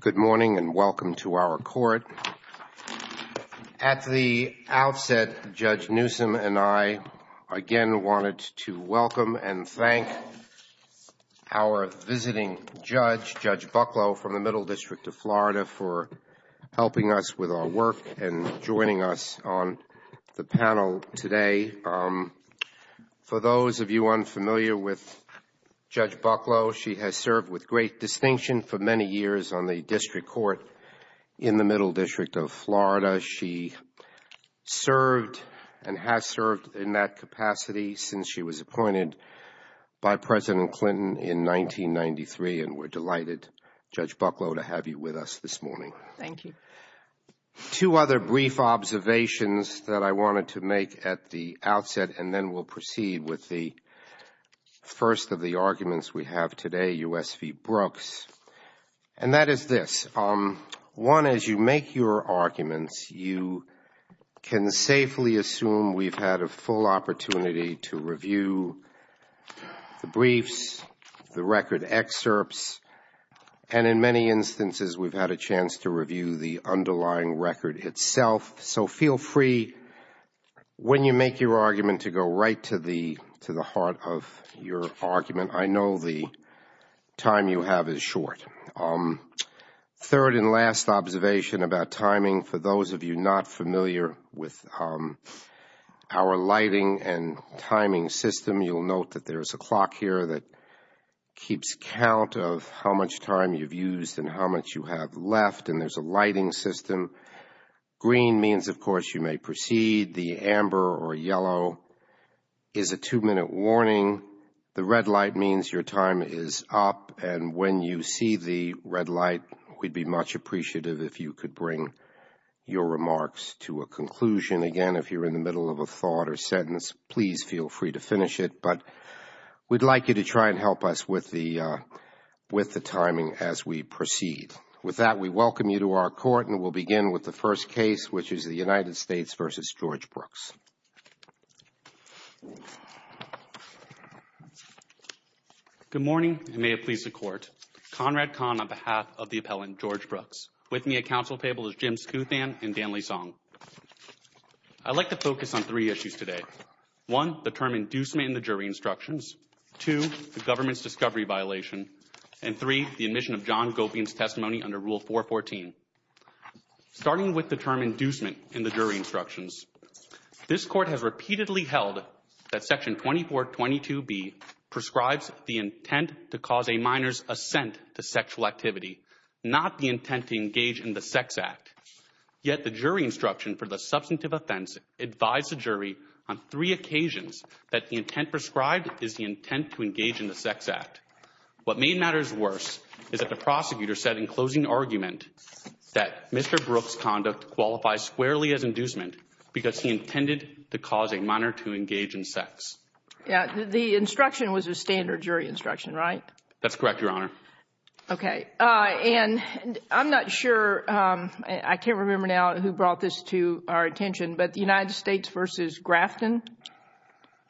Good morning, and welcome to our court. At the outset, Judge Newsom and I again wanted to welcome and thank our visiting judge, Judge Bucklow, from the Middle District of Florida for helping us with our work and joining us on the panel today. For those of you unfamiliar with Judge Bucklow, she has served with great distinction for many years on the district court in the Middle District of Florida. She served and has served in that capacity since she was appointed by President Clinton in 1993, and we're delighted, Judge Bucklow, to have you with us this morning. Judge Bucklow Thank you. Judge Goldberg Two other brief observations that I wanted to make at the outset, and then we'll proceed with the first of the arguments we have today, U.S. v. Brooks, and that is this. One, as you make your arguments, you can safely assume we've had a full opportunity to review the briefs, the record excerpts, and in many instances we've had a chance to review the underlying record itself. So feel free, when you make your argument, to go right to the heart of your argument. I know the time you have is Our lighting and timing system, you'll note that there's a clock here that keeps count of how much time you've used and how much you have left, and there's a lighting system. Green means, of course, you may proceed. The amber or yellow is a two-minute warning. The red light means your time is up, and when you see the red light, we'd be much appreciative if you could bring your remarks to a conclusion. Again, if you're in the middle of a thought or sentence, please feel free to finish it, but we'd like you to try and help us with the timing as we proceed. With that, we welcome you to our court, and we'll begin with the first case, which is the United States v. George Brooks. Conrad Kahn Good morning, and may it please the Court. Conrad Kahn on behalf of the appellant George Brooks. With me at counsel table is Jim Skuthan and Dan Lee Song. I'd like to focus on three issues today. One, the term inducement in the jury instructions. Two, the government's discovery violation. And three, the admission of John Gopian's testimony under Rule 414. Starting with the term inducement in the jury instructions, this Court has repeatedly held that Section 2422B prescribes the intent to cause a minor's assent to sexual activity, not the intent to engage in the sex act. Yet the jury instruction for the substantive offense advised the jury on three occasions that the intent prescribed is the intent to engage in the sex act. What made matters worse is that the prosecutor said in closing argument that Mr. Brooks' conduct qualifies squarely as inducement because he intended to cause a minor to engage in sex. The instruction was a standard jury instruction, right? That's correct, Your Honor. Okay. And I'm not sure, I can't remember now who brought this to our attention, but the United States v. Grafton?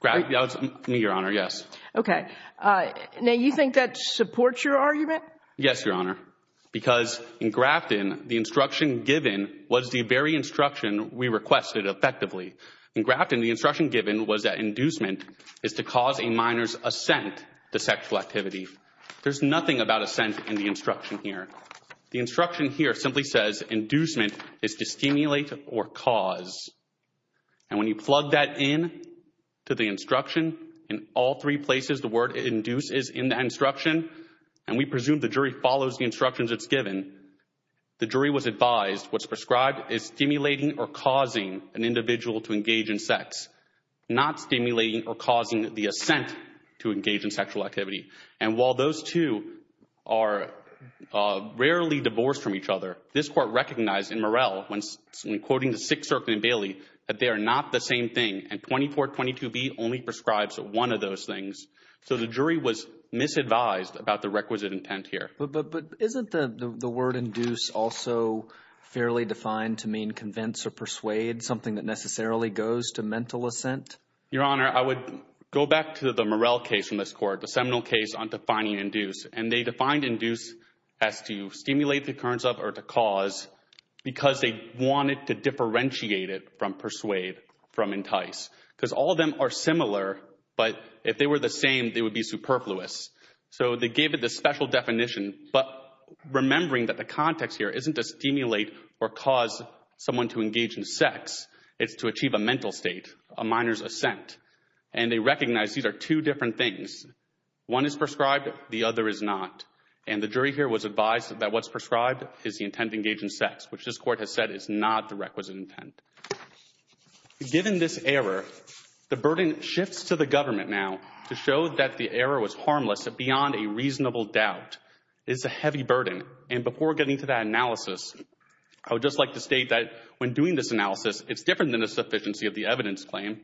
Grafton, that was me, Your Honor, yes. Okay. Now, you think that supports your argument? Yes, Your Honor. Because in Grafton, the instruction given was the very instruction we requested effectively. In Grafton, the instruction given was that inducement is to cause a minor's assent to sexual activity. There's nothing about assent in the instruction here. The instruction here simply says inducement is to stimulate or cause. And when you plug that in to the instruction, in all three places the word induce is in that instruction, and we presume the jury follows the instructions it's given, the jury was advised what's prescribed is stimulating or causing an individual to engage in sex, not stimulating or causing the assent to engage in sexual activity. And while those two are rarely divorced from each other, this Court recognized in Murrell when quoting the Sixth Circuit in Bailey that they are not the same thing, and 2422B only prescribes one of those things. So the jury was misadvised about the requisite intent here. But isn't the word induce also fairly defined to mean convince or persuade, something that necessarily goes to mental assent? Your Honor, I would go back to the Murrell case from this Court, the seminal case on defining induce. And they defined induce as to stimulate the occurrence of or to cause because they wanted to differentiate it from persuade, from entice. Because all of them are similar, but if they were the same, they would be superfluous. So they gave it this special definition, but remembering that the context here isn't to stimulate or cause someone to engage in sex, it's to achieve a mental state, a minor's assent. And they recognized these are two different things. One is prescribed, the other is not. And the jury here was advised that what's prescribed is the intent to engage in sex, which this Court has said is not the requisite intent. Given this error, the burden shifts to the government now to show that the error was doubt. It's a heavy burden. And before getting to that analysis, I would just like to state that when doing this analysis, it's different than a sufficiency of the evidence claim.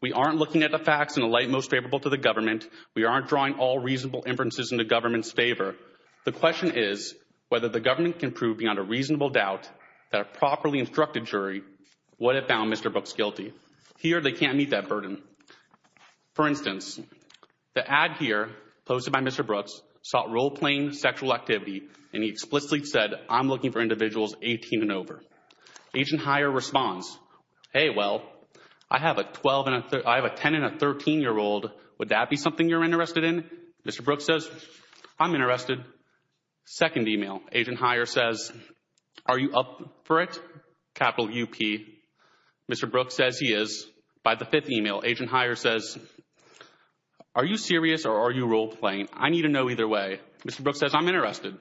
We aren't looking at the facts in a light most favorable to the government. We aren't drawing all reasonable inferences in the government's favor. The question is whether the government can prove beyond a reasonable doubt that a properly instructed jury would have found Mr. Brooks guilty. Here, they can't meet that burden. For instance, the ad here posted by Mr. Brooks sought role-playing sexual activity, and he explicitly said, I'm looking for individuals 18 and over. Agent Heyer responds, hey, well, I have a 10- and a 13-year-old. Would that be something you're interested in? Mr. Brooks says, I'm interested. Second email, Agent Heyer says, are you up for it, capital U-P? Mr. Brooks says he is. By the fifth email, Agent Heyer says, are you serious or are you role-playing? I need to know either way. Mr. Brooks says, I'm interested.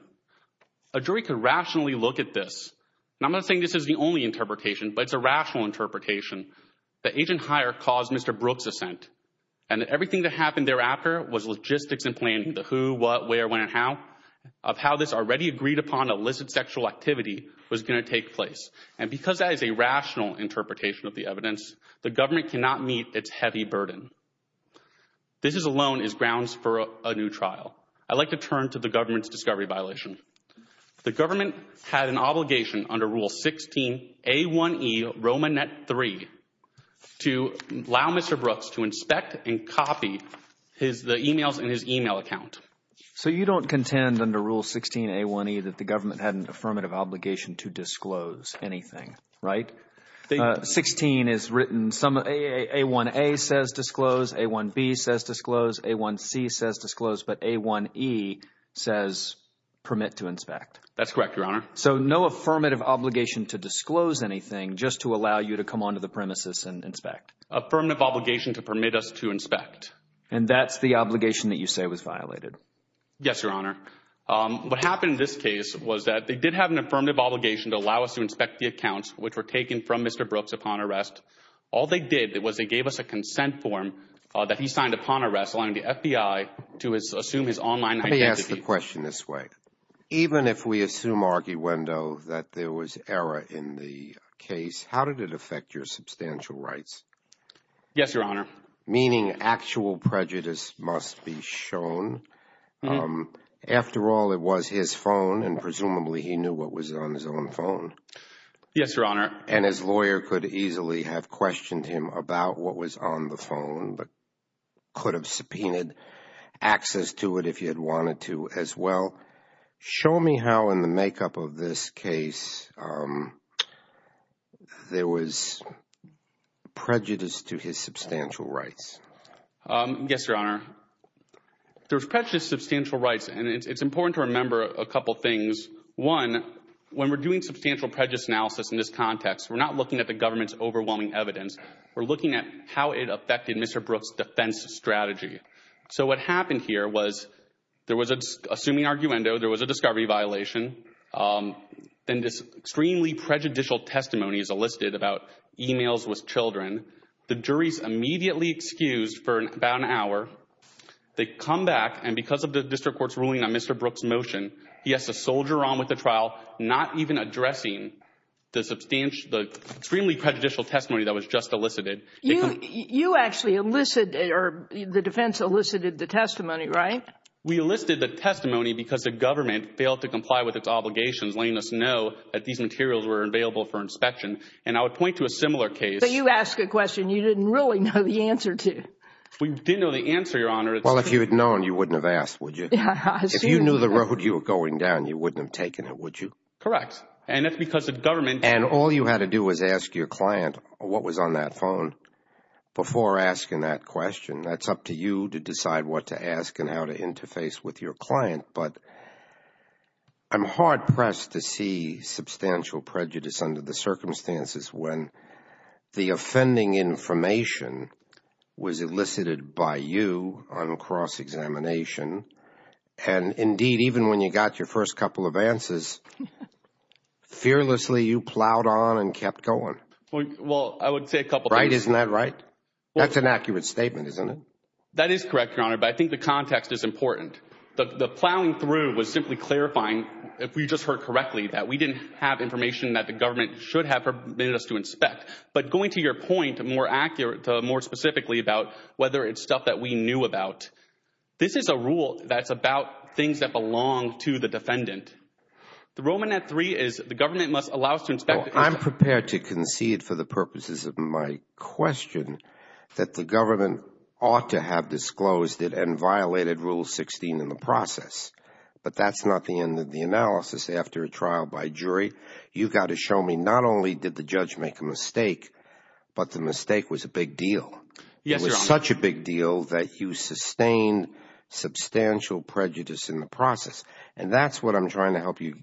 A jury could rationally look at this. And I'm not saying this is the only interpretation, but it's a rational interpretation that Agent Heyer caused Mr. Brooks' assent, and that everything that happened thereafter was logistics and planning, the who, what, where, when, and how of how this already agreed-upon illicit sexual activity was going to take place. And because that is a rational interpretation of the evidence, the government cannot meet its heavy burden. This alone is grounds for a new trial. I'd like to turn to the government's discovery violation. The government had an obligation under Rule 16A1E RomaNet 3 to allow Mr. Brooks to inspect and copy the emails in his email account. So you don't contend under Rule 16A1E that the government had an affirmative obligation to disclose anything, right? 16 is written, A1A says disclose, A1B says disclose, A1C says disclose, but A1E says permit to inspect. That's correct, Your Honor. So no affirmative obligation to disclose anything just to allow you to come onto the premises and inspect? Affirmative obligation to permit us to inspect. And that's the obligation that you say was violated? Yes, Your Honor. What happened in this case was that they did have an affirmative obligation to allow us to inspect the accounts which were taken from Mr. Brooks upon arrest. All they did was they gave us a consent form that he signed upon arrest, allowing the FBI to assume his online identity. Let me ask the question this way. Even if we assume, arguendo, that there was error in the case, how did it affect your substantial rights? Yes, Your Honor. Meaning actual prejudice must be shown. After all, it was his phone and presumably he knew what was on his own phone. Yes, Your Honor. And his lawyer could easily have questioned him about what was on the phone, but could have subpoenaed access to it if he had wanted to as well. Show me how in the makeup of this Yes, Your Honor. There's prejudiced substantial rights and it's important to remember a couple things. One, when we're doing substantial prejudice analysis in this context, we're not looking at the government's overwhelming evidence. We're looking at how it affected Mr. Brooks' defense strategy. So what happened here was there was an assuming arguendo, there was a discovery violation, then this extremely prejudicial testimony is elicited about emails with children. The jury's immediately excused for about an hour. They come back and because of the district court's ruling on Mr. Brooks' motion, he has to soldier on with the trial, not even addressing the extremely prejudicial testimony that was just elicited. You actually elicited, or the defense elicited the testimony, right? We elicited the testimony because the government failed to comply with its obligations, letting us know that these materials were available for inspection. And I would point to a similar case. So you ask a question you didn't really know the answer to. We didn't know the answer, Your Honor. Well, if you had known, you wouldn't have asked, would you? Yeah, I assume you wouldn't have. If you knew the road you were going down, you wouldn't have taken it, would you? Correct. And that's because the government And all you had to do was ask your client what was on that phone before asking that question. That's up to you to decide what to ask and how to interface with your client. But I'm hard-pressed to see substantial prejudice under the circumstances when the offending information was elicited by you on cross-examination. And indeed, even when you got your first couple of answers, fearlessly you plowed on and kept going. Well, I would say a couple things. Right? Isn't that right? That's an accurate statement, isn't it? That is correct, Your Honor. But I think the context is important. The plowing through was simply clarifying, if we just heard correctly, that we didn't have information that the government should have permitted us to inspect. But going to your point, more accurate, more specifically about whether it's stuff that we knew about, this is a rule that's about things that belong to the defendant. The Roman at three is the government must allow us to inspect. I'm prepared to concede for the purposes of my question that the government ought to have disclosed it and violated Rule 16 in the process. But that's not the end of the analysis. After a trial by jury, you've got to show me not only did the judge make a mistake, but the mistake was a big deal. It was such a big deal that you sustained substantial prejudice in the process. And that's what I'm trying to help you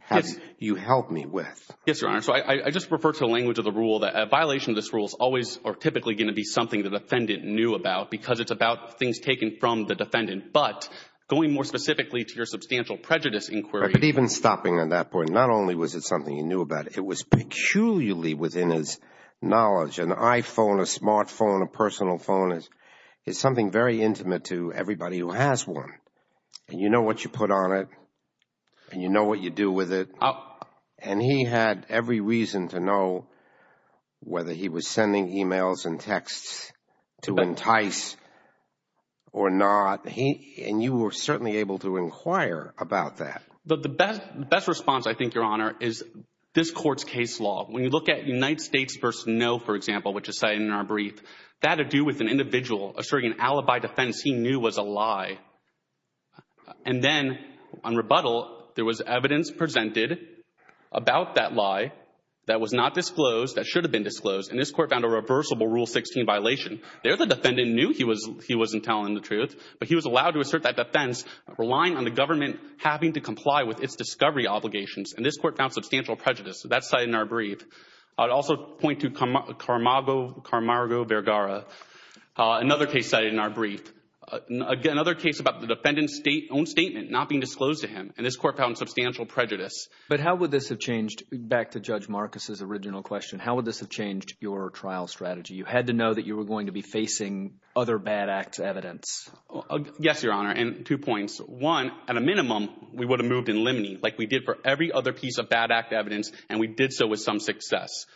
help me with. Yes, Your Honor. So I just refer to the language of the rule that a violation of this rule is typically going to be something the defendant knew about because it's about things taken from the defendant. But going more specifically to your substantial prejudice inquiry. But even stopping on that point, not only was it something you knew about, it was peculiarly within his knowledge. An iPhone, a smartphone, a personal phone is something very intimate to everybody who has one. And you know what you put on it and you know what you do with it. And he had every reason to know whether he was sending emails and texts to entice or not. And you were certainly able to inquire about that. But the best response, I think, Your Honor, is this court's case law. When you look at United States v. No, for example, which is cited in our brief, that had to do with an individual asserting an alibi defense he knew was a lie. And then on rebuttal, there was evidence presented about that lie that was not disclosed, that should have been disclosed. And this court found a reversible Rule 16 violation. There the defendant knew he wasn't telling the truth, but he was allowed to assert that defense relying on the government having to comply with its discovery obligations. And this court found substantial prejudice. That's cited in our brief. I'd also point to Carmargo Vergara, another case cited in our brief, another case about the defendant's own statement not being disclosed to him. And this court found substantial prejudice. But how would this have changed, back to Judge Marcus's original question, how would this have changed your trial strategy? You had to know that you were going to be facing other bad acts evidence. Yes, Your Honor. And two points. One, at a minimum, we would have moved in limine, like we did for every other piece of bad act evidence. And we did so with some success.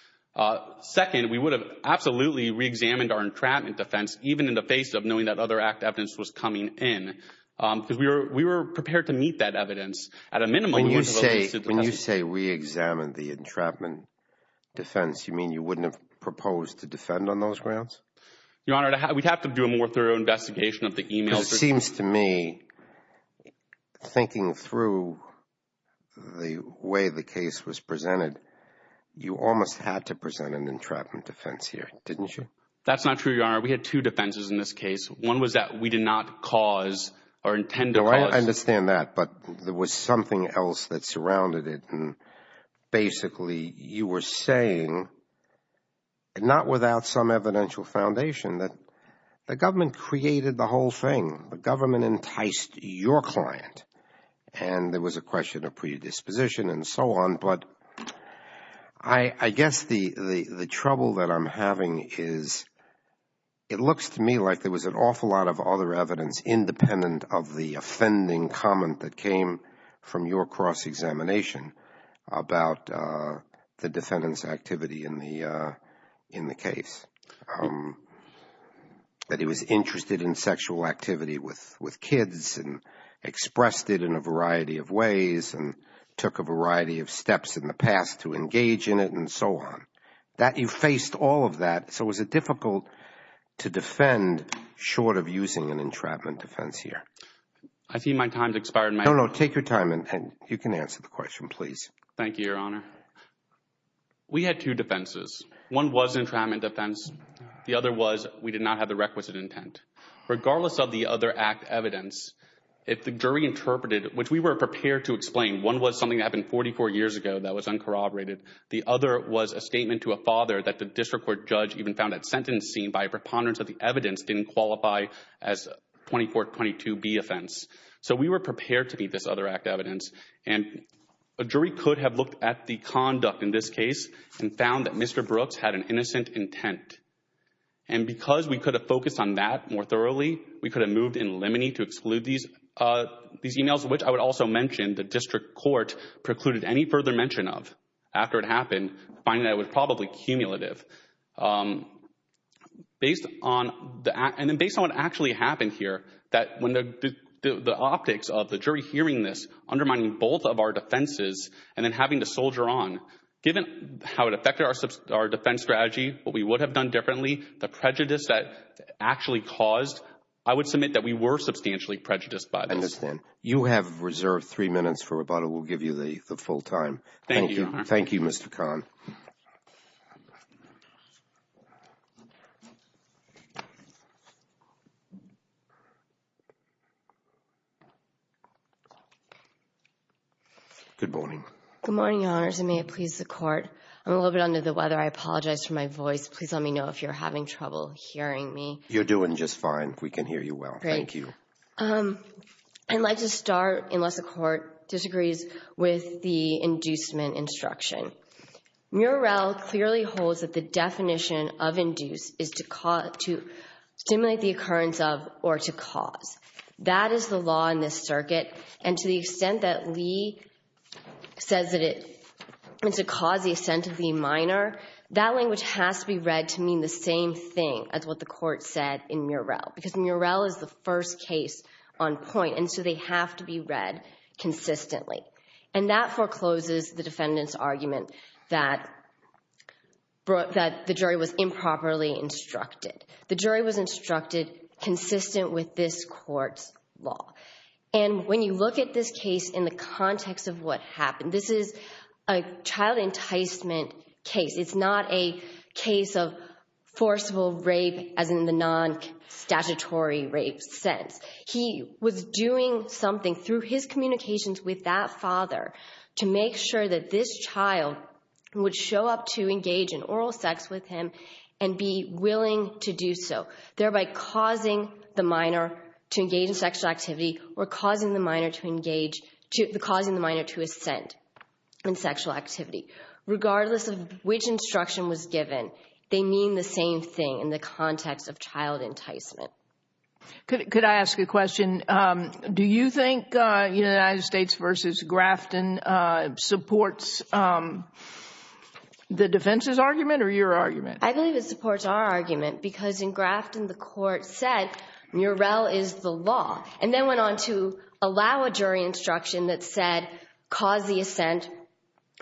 Second, we would have absolutely reexamined our entrapment defense, even in the face of knowing that other act evidence was coming in. Because we were prepared to meet that evidence, at a minimum. When you say we examined the entrapment defense, you mean you wouldn't have proposed to defend on those grounds? Your Honor, we'd have to do a more thorough investigation of the email. It seems to me, thinking through the way the case was presented, you almost had to present an entrapment defense here, didn't you? That's not true, Your Honor. We had two defenses in this case. One was that we did not cause or intend to cause. I understand that. But there was something else that surrounded it. And basically, you were saying, not without some evidential foundation, that the government created the whole thing. The government enticed your client. And there was a question of predisposition and so on. But I guess the trouble that I'm having is, it looks to me like there was an awful lot of other evidence, independent of the offending comment that came from your cross-examination, about the defendant's activity in the case. That he was interested in sexual activity with kids, and expressed it in a variety of ways, and took a variety of steps in the past to engage in it, and so on. You faced all of that. So was it difficult to defend, short of using an entrapment defense here? I see my time has expired. No, no. Take your time. And you can answer the question, please. Thank you, Your Honor. We had two defenses. One was an entrapment defense. The other was, we did not have the requisite intent. Regardless of the other act evidence, if the jury interpreted, which we were prepared to explain, one was something that happened 44 years ago that was uncorroborated. The other was a statement to a father that the district court judge even found that sentencing, by a preponderance of the evidence, didn't qualify as 2422B offense. So we were prepared to meet this other act evidence. And a jury could have looked at the conduct in this case, and found that Mr. Brooks had an innocent intent. And because we could have focused on that more thoroughly, we could have moved in limine to exclude these emails, which I would also mention the district court precluded any further mention of after it happened, finding that it was probably cumulative. And then based on what actually happened here, that when the optics of the jury hearing this, undermining both of our defenses, and then having to soldier on, given how it affected our defense strategy, what we would have done differently, the prejudice that actually caused, I would submit that we were substantially prejudiced by this. I understand. You have reserved three minutes for rebuttal. We'll give you the full time. Thank you, Your Honor. Thank you, Mr. Kahn. Good morning. Good morning, Your Honors, and may it please the Court. I'm a little bit under the weather. I apologize for my voice. Please let me know if you're having trouble hearing me. You're doing just fine. We can hear you well. Thank you. I'd like to start, unless the Court disagrees, with the inducement instruction. Murrell clearly holds that the definition of induce is to stimulate the occurrence of or to cause. That is the law in this circuit. And to the extent that Lee says that it is to cause the same thing as what the Court said in Murrell, because Murrell is the first case on point, and so they have to be read consistently. And that forecloses the defendant's argument that the jury was improperly instructed. The jury was instructed consistent with this Court's law. And when you look at this case in the context of what happened, this is a child enticement case. It's not a case of forcible rape as in the non-statutory rape sense. He was doing something through his communications with that father to make sure that this child would show up to engage in oral sex with him and be willing to do so, thereby causing the minor to engage in sexual activity. Regardless of which instruction was given, they mean the same thing in the context of child enticement. Could I ask a question? Do you think United States v. Grafton supports the defense's argument or your argument? I believe it supports our argument because in Grafton the Court said Murrell is the law and then went on to allow a jury instruction that said caused the assent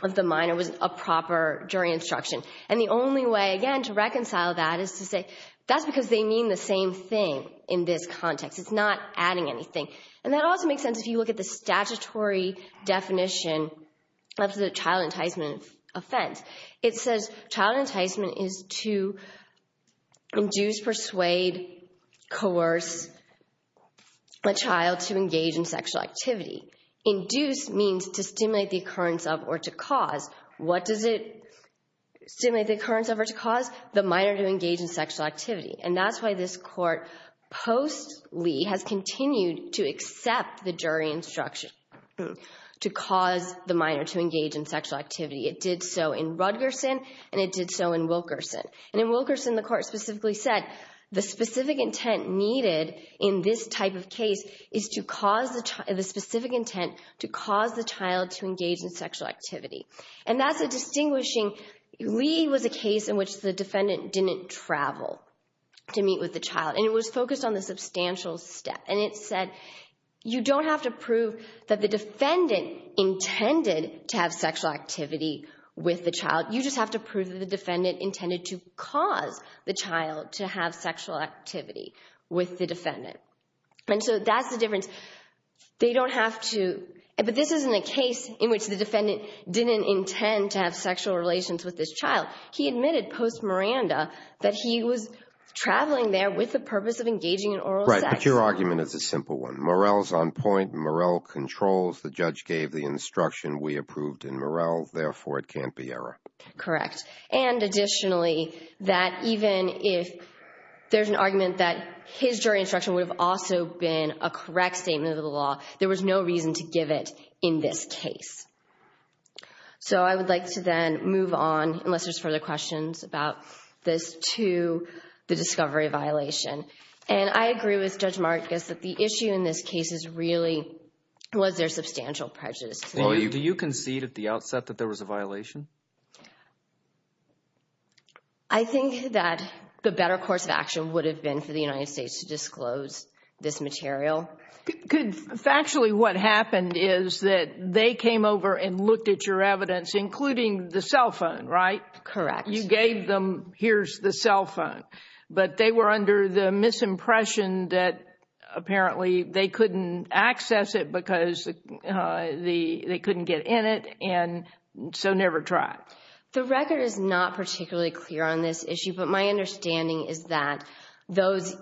of the minor was improper jury instruction. And the only way again to reconcile that is to say that's because they mean the same thing in this context. It's not adding anything. And that also makes sense if you look at the statutory definition of the child enticement offense. It says child enticement is to induce, persuade, coerce a child to engage in sexual activity. Induce means to stimulate the occurrence of or to cause. What does it stimulate the occurrence of or to cause? The minor to engage in sexual activity. And that's why this court post Lee has continued to accept the jury instruction to cause the minor to engage in sexual activity. It did so in Rutgerson and it did so in Wilkerson. And in Wilkerson the specific intent needed in this type of case is to cause the specific intent to cause the child to engage in sexual activity. And that's a distinguishing, Lee was a case in which the defendant didn't travel to meet with the child. And it was focused on the substantial step. And it said you don't have to prove that the defendant intended to have sexual activity with the child. You just have to prove that the defendant intended to cause the child to have sexual activity with the defendant. And so that's the difference. They don't have to, but this isn't a case in which the defendant didn't intend to have sexual relations with this child. He admitted post Miranda that he was traveling there with the purpose of engaging in oral sex. Right. But your argument is a simple one. Morel's on point. Morel controls. The judge gave the instruction. We approved in Morel. Therefore, it can't be error. Correct. And additionally, that even if there's an argument that his jury instruction would have also been a correct statement of the law, there was no reason to give it in this case. So I would like to then move on unless there's further questions about this to the discovery violation. And I agree with Judge Marcus that the issue in this case is really was there substantial prejudice? Do you concede at the outset that there was a violation? I think that the better course of action would have been for the United States to disclose this material. Factually, what happened is that they came over and looked at your evidence, including the cell phone, right? Correct. You gave them here's the cell phone, but they were because they couldn't get in it. And so never tried. The record is not particularly clear on this issue. But my understanding is that those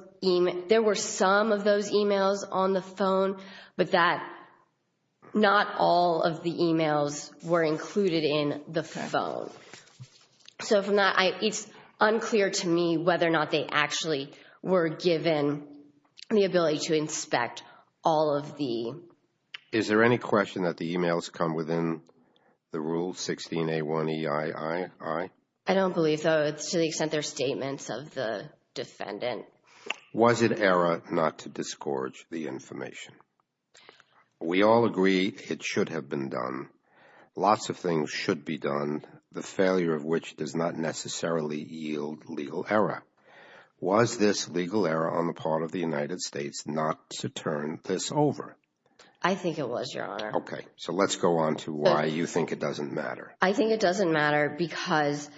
there were some of those emails on the phone, but that not all of the emails were included in the phone. So from that, it's unclear to me whether or not they actually were given the ability to inspect all of the. Is there any question that the emails come within the rule 16A1EII? I don't believe so. To the extent their statements of the defendant. Was it error not to discourage the information? We all agree it should have been done. Lots of things should be done, the failure of which does not necessarily yield legal error. Was this legal error on the part of the United States not to turn this over? I think it was your honor. OK, so let's go on to why you think it doesn't matter. I think it doesn't matter because.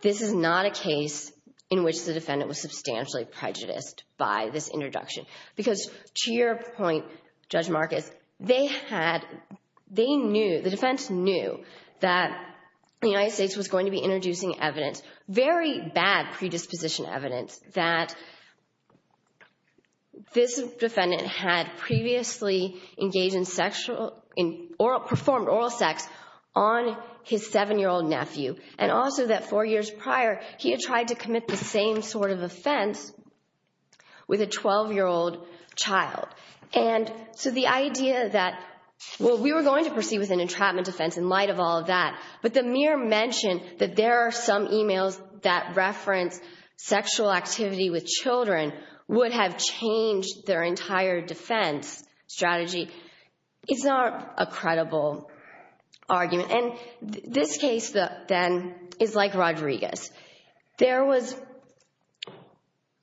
This is not a case in which the defendant was substantially prejudiced by this introduction, because to your point, Judge Marcus, they had they knew the defense knew that the United States was going to be introducing evidence, very bad predisposition evidence that this defendant had previously engaged in sexual or performed oral sex on his seven-year-old nephew. And also that four years prior, he had tried to commit the same sort of offense with a 12-year-old child. And so the idea that what we were going to proceed with an entrapment defense in light of all of that, but the mere mention that there are some emails that reference sexual activity with children would have changed their entire defense strategy, is not a credible argument. And this case then is like Rodriguez. There was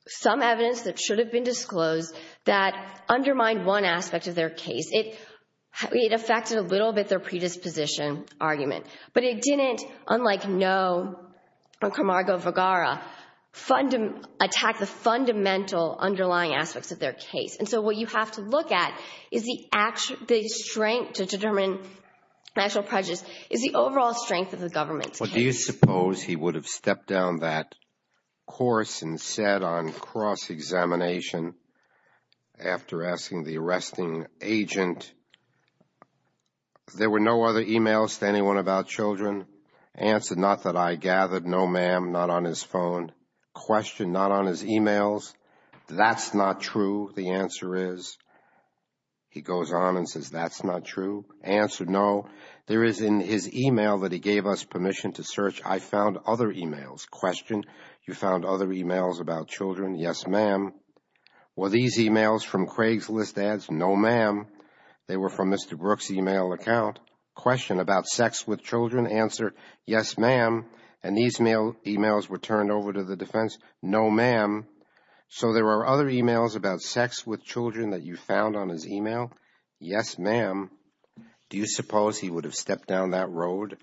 some evidence that should have been disclosed that undermined one aspect of their case. It affected a little bit their predisposition argument. But it didn't, unlike no Camargo Vergara, attack the fundamental underlying aspects of their case. And so what you have to look at is the strength to determine actual prejudice is the overall strength of the government. Well, do you suppose he would have stepped down that course and said on cross-examination after asking the arresting agent, there were no other emails to anyone about children? Answered, not that I gathered. No, ma'am. Not on his phone. Question, not on his emails. That's not true. The answer is, he goes on and says, that's not true. Answered, no. There is in his email that he gave us permission to search. I found other emails. Question, you found other emails about children? Yes, ma'am. Were these emails from Craigslist ads? No, ma'am. They were from Mr. Brooks' email account. Question, about sex with children? Answered, yes, ma'am. And these emails were turned over to the defense? No, ma'am. So there are other emails about sex with children that you found on his email? Yes, ma'am. Do you suppose he would have stepped down that road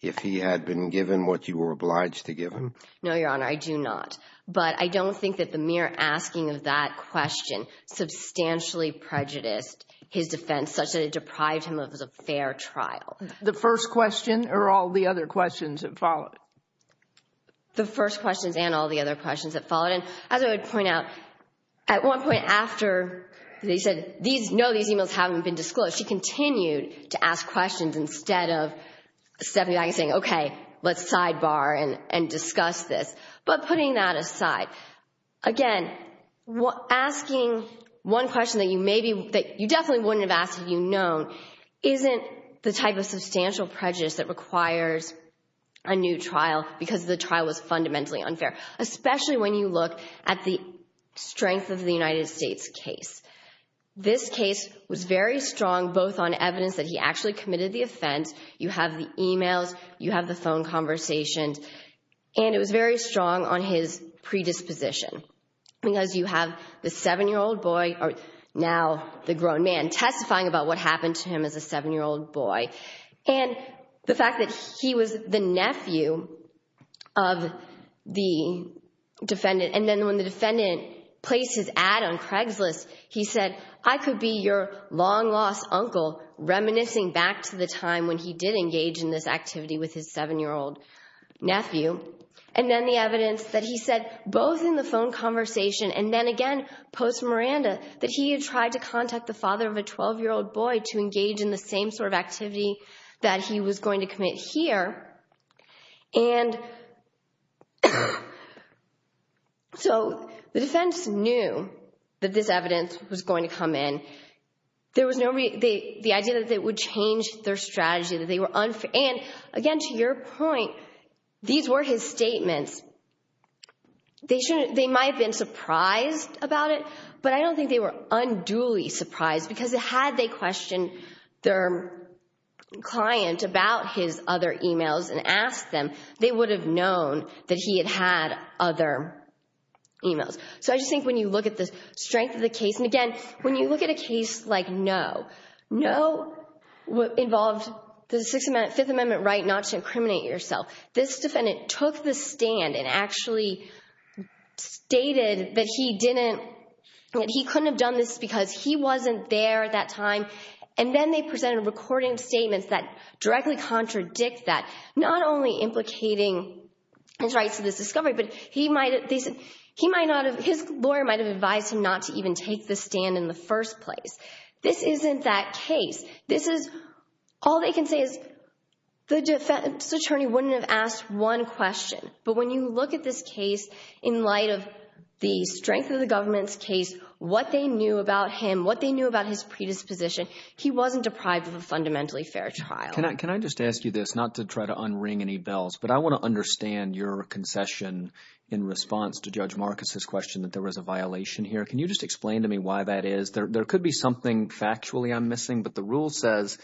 if he had been given what you were obliged to give him? No, Your Honor, I do not. But I don't think that the mere asking of that question substantially prejudiced his defense such that it deprived him of a fair trial. The first question or all the other questions that followed? The first questions and all the other questions that followed. And as I would point out, at one point after they said, no, these emails haven't been disclosed, she continued to ask questions instead of stepping back and saying, okay, let's sidebar and discuss this. But putting that aside, again, asking one question that you definitely wouldn't have asked if you'd known isn't the type of substantial prejudice that requires a new trial because the trial was fundamentally unfair, especially when you look at the strength of the United States case. This case was very strong, both on evidence that he actually committed the offense, you have the emails, you have the phone conversations. And it was very strong on his predisposition because you have the seven-year-old boy, or now the grown man, testifying about what happened to him as a seven-year-old boy. And the fact that he was the nephew of the defendant. And then when the defendant placed his ad on Craigslist, he said, I could be your long-lost uncle reminiscing back to the time when he did engage in this activity with his seven-year-old nephew. And then the evidence that he said, both in the phone conversation and then again, post-Miranda, that he had tried to contact the father of a 12-year-old boy to engage in the same sort of activity that he was going to commit here. And so the defense knew that this evidence was going to come in. There was no the idea that it would change their strategy, that they were unfair. And again, to your point, these were his statements. They might have been surprised about it, but I don't think they were unduly surprised because had they questioned their client about his other emails and asked them, they would have known that he had had other emails. So I just think when you look at the no involved the Fifth Amendment right not to incriminate yourself, this defendant took the stand and actually stated that he couldn't have done this because he wasn't there at that time. And then they presented a recording of statements that directly contradict that, not only implicating his rights to this discovery, but his lawyer might have advised him not to even take the stand in the first place. This isn't that case. All they can say is the defense attorney wouldn't have asked one question. But when you look at this case in light of the strength of the government's case, what they knew about him, what they knew about his predisposition, he wasn't deprived of a fundamentally fair trial. Can I just ask you this, not to try to unring any bells, but I want to understand your concession in response to Judge Marcus's question that there is a violation here. Can you just explain to me why that is? There could be something factually I'm missing, but the rule says,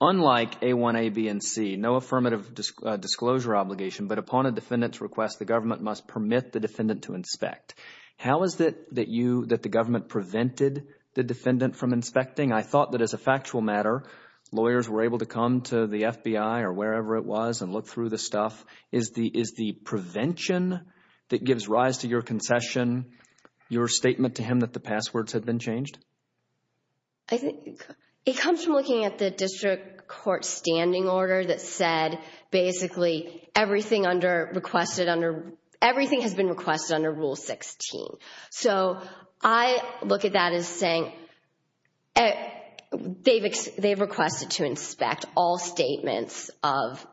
unlike A1, A, B, and C, no affirmative disclosure obligation, but upon a defendant's request, the government must permit the defendant to inspect. How is it that you, that the government prevented the defendant from inspecting? I thought that as a factual matter, lawyers were able to come to the FBI or wherever it was and look through the stuff. Is the prevention that gives rise to your concession, your statement to him that the passwords had been changed? It comes from looking at the district court standing order that said basically everything has been requested under Rule 16. So I look at that as saying they've requested to inspect all statements of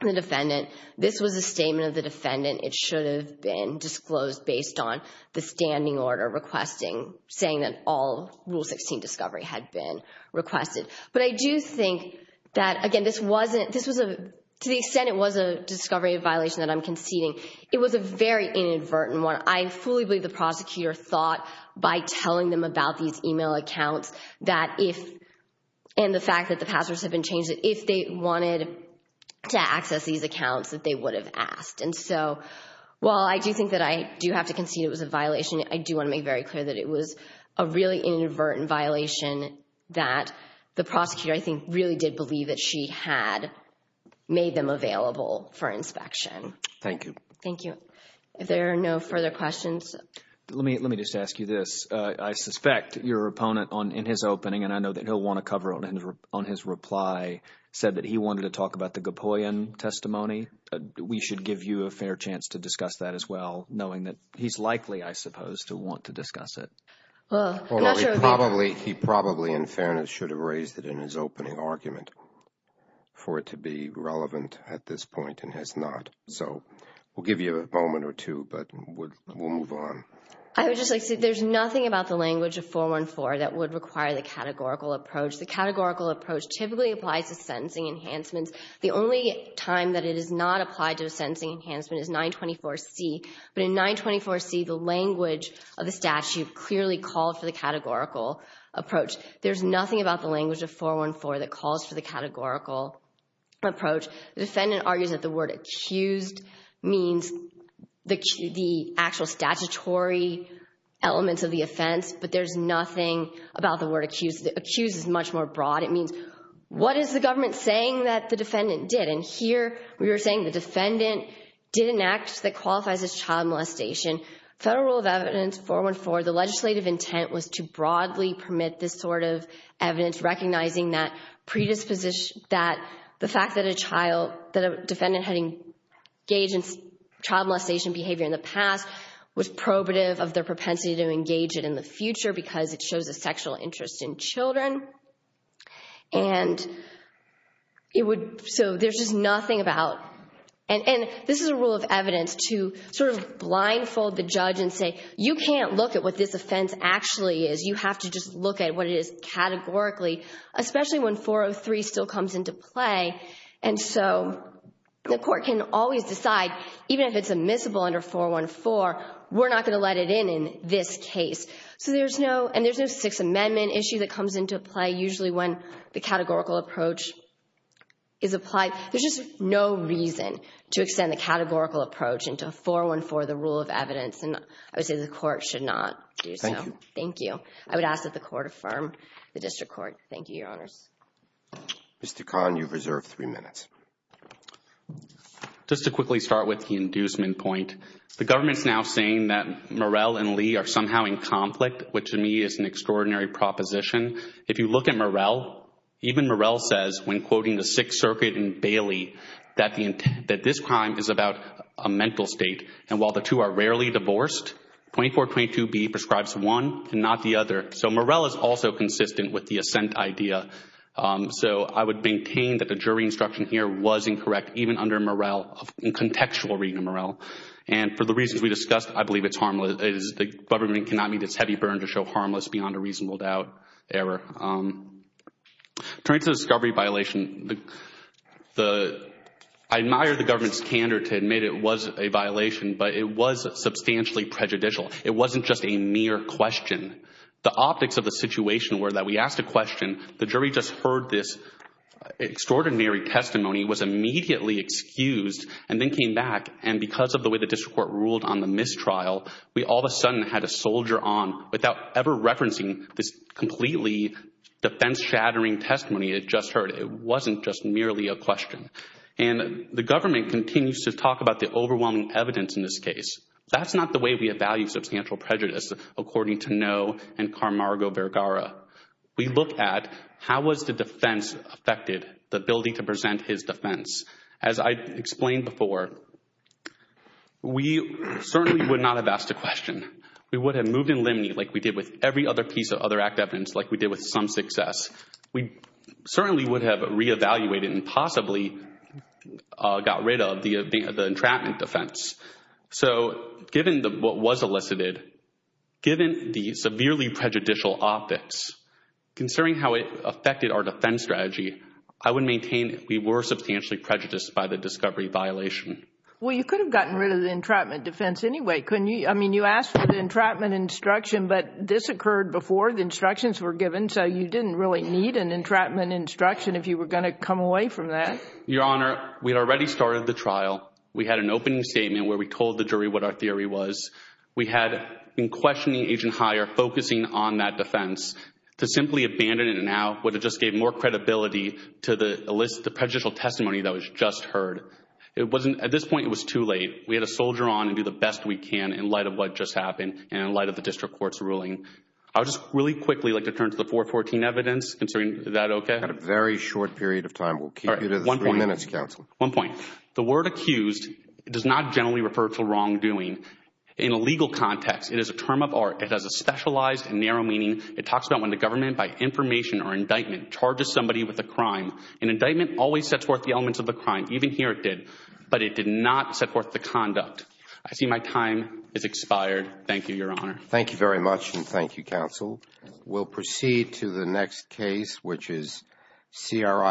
the defendant. This was a statement of the defendant. It should have been disclosed based on the standing order requesting, saying that all Rule 16 discovery had been requested. But I do think that, again, this wasn't, this was a, to the extent it was a discovery violation that I'm conceding, it was a very inadvertent one. I fully believe the prosecutor thought by telling them about these email accounts that if, and the fact that the passwords have been changed, if they wanted to access these accounts that they would have asked. And so while I do think that I do have to concede it was a violation, I do want to make very clear that it was a really inadvertent violation that the prosecutor, I think, really did believe that she had made them available for inspection. Thank you. Thank you. If there are no further questions. Let me just ask you this. I suspect your opponent in his opening, and I know that he'll want to cover it on his reply, said that he wanted to talk about the Gapoyan testimony. We should give you a fair chance to discuss that as well, knowing that he's likely, I suppose, to want to discuss it. Well, he probably, in fairness, should have raised it in his opening argument for it to be relevant at this point and has not. So we'll give you a moment or two, but we'll move on. I would just like to say there's nothing about the language of 414 that would require the categorical approach. The categorical approach typically applies to sentencing enhancements. The only time that it is not applied to a sentencing enhancement is 924C. But in 924C, the language of the statute clearly called for the categorical approach. There's nothing about the language of 414 that calls for the categorical approach. The defendant argues that the word accused means the actual statutory elements of the offense, but there's nothing about the word accused. Accused is much more broad. It means what is the government saying that the defendant did? And here we were saying the defendant did an act that qualifies as child molestation. Federal rule of evidence 414, the legislative intent was to broadly permit this evidence, recognizing that the fact that a defendant had engaged in child molestation behavior in the past was probative of their propensity to engage it in the future because it shows a sexual interest in children. And so there's just nothing about. And this is a rule of evidence to sort of blindfold the judge and say, you can't look at what this offense actually is. You have to just look at what it is categorically, especially when 403 still comes into play. And so the court can always decide, even if it's admissible under 414, we're not going to let it in in this case. So there's no and there's no Sixth Amendment issue that comes into play, usually when the categorical approach is applied. There's just no reason to extend the categorical approach into 414, the rule of evidence. And I would say the court should not do so. Thank you. Thank you. I would ask that the court affirm the district court. Thank you, Your Honors. Mr. Khan, you've reserved three minutes. Just to quickly start with the inducement point, the government's now saying that Murrell and Lee are somehow in conflict, which to me is an extraordinary proposition. If you look at Murrell, even Murrell says when quoting the Sixth Circuit in Bailey that this crime is about a mental state and while the two are rarely divorced, 2422B prescribes one and not the other. So Murrell is also consistent with the assent idea. So I would maintain that the jury instruction here was incorrect, even under Murrell, in contextual reading of Murrell. And for the reasons we discussed, I believe it's harmless. The government cannot meet its heavy burden to show harmless beyond a reasonable doubt error. Turning to the discovery violation, I admire the government's candor to admit it was a violation, but it was substantially prejudicial. It wasn't just a mere question. The optics of the situation were that we asked a question, the jury just heard this extraordinary testimony, was immediately excused, and then came back. And because of the way the district court ruled on the mistrial, we all of a sudden had a soldier on without ever referencing this completely defense-shattering testimony it just heard. It wasn't just merely a question. And the government continues to talk about the overwhelming evidence in this case. That's not the way we evaluate substantial prejudice, according to Noe and Carmargo Vergara. We look at how was the defense affected, the ability to present his defense. As I explained before, we certainly would not have asked a question. We would have moved in limny like we did with every other piece of other act evidence, like we did with some success. We certainly would have re-evaluated and possibly got rid of the entrapment defense. So given what was elicited, given the severely prejudicial optics, considering how it affected our defense strategy, I would maintain we were substantially prejudiced by the discovery violation. Well, you could have gotten rid of the entrapment defense anyway, couldn't you? I mean, you asked for the entrapment instruction, but this occurred before the instructions were given, so you didn't really need an entrapment instruction if you were going to come away from that. Your Honor, we had already started the trial. We had an opening statement where we told the jury what our theory was. We had been questioning Agent Heyer, focusing on that to simply abandon it now, but it just gave more credibility to the prejudicial testimony that was just heard. At this point, it was too late. We had to soldier on and do the best we can in light of what just happened and in light of the district court's ruling. I would just really quickly like to turn to the 414 evidence. Is that okay? We have a very short period of time. We will keep you to the three minutes, Counselor. One point. The word accused does not generally refer to wrongdoing. In a legal context, it is a term of art. It has a specialized and narrow meaning. It talks about when the government, by information or indictment, charges somebody with a crime. An indictment always sets forth the elements of the crime. Even here, it did, but it did not set forth the conduct. I see my time has expired. Thank you, Your Honor. Thank you very much, and thank you, Counsel. We'll proceed to the next case, which is CRI.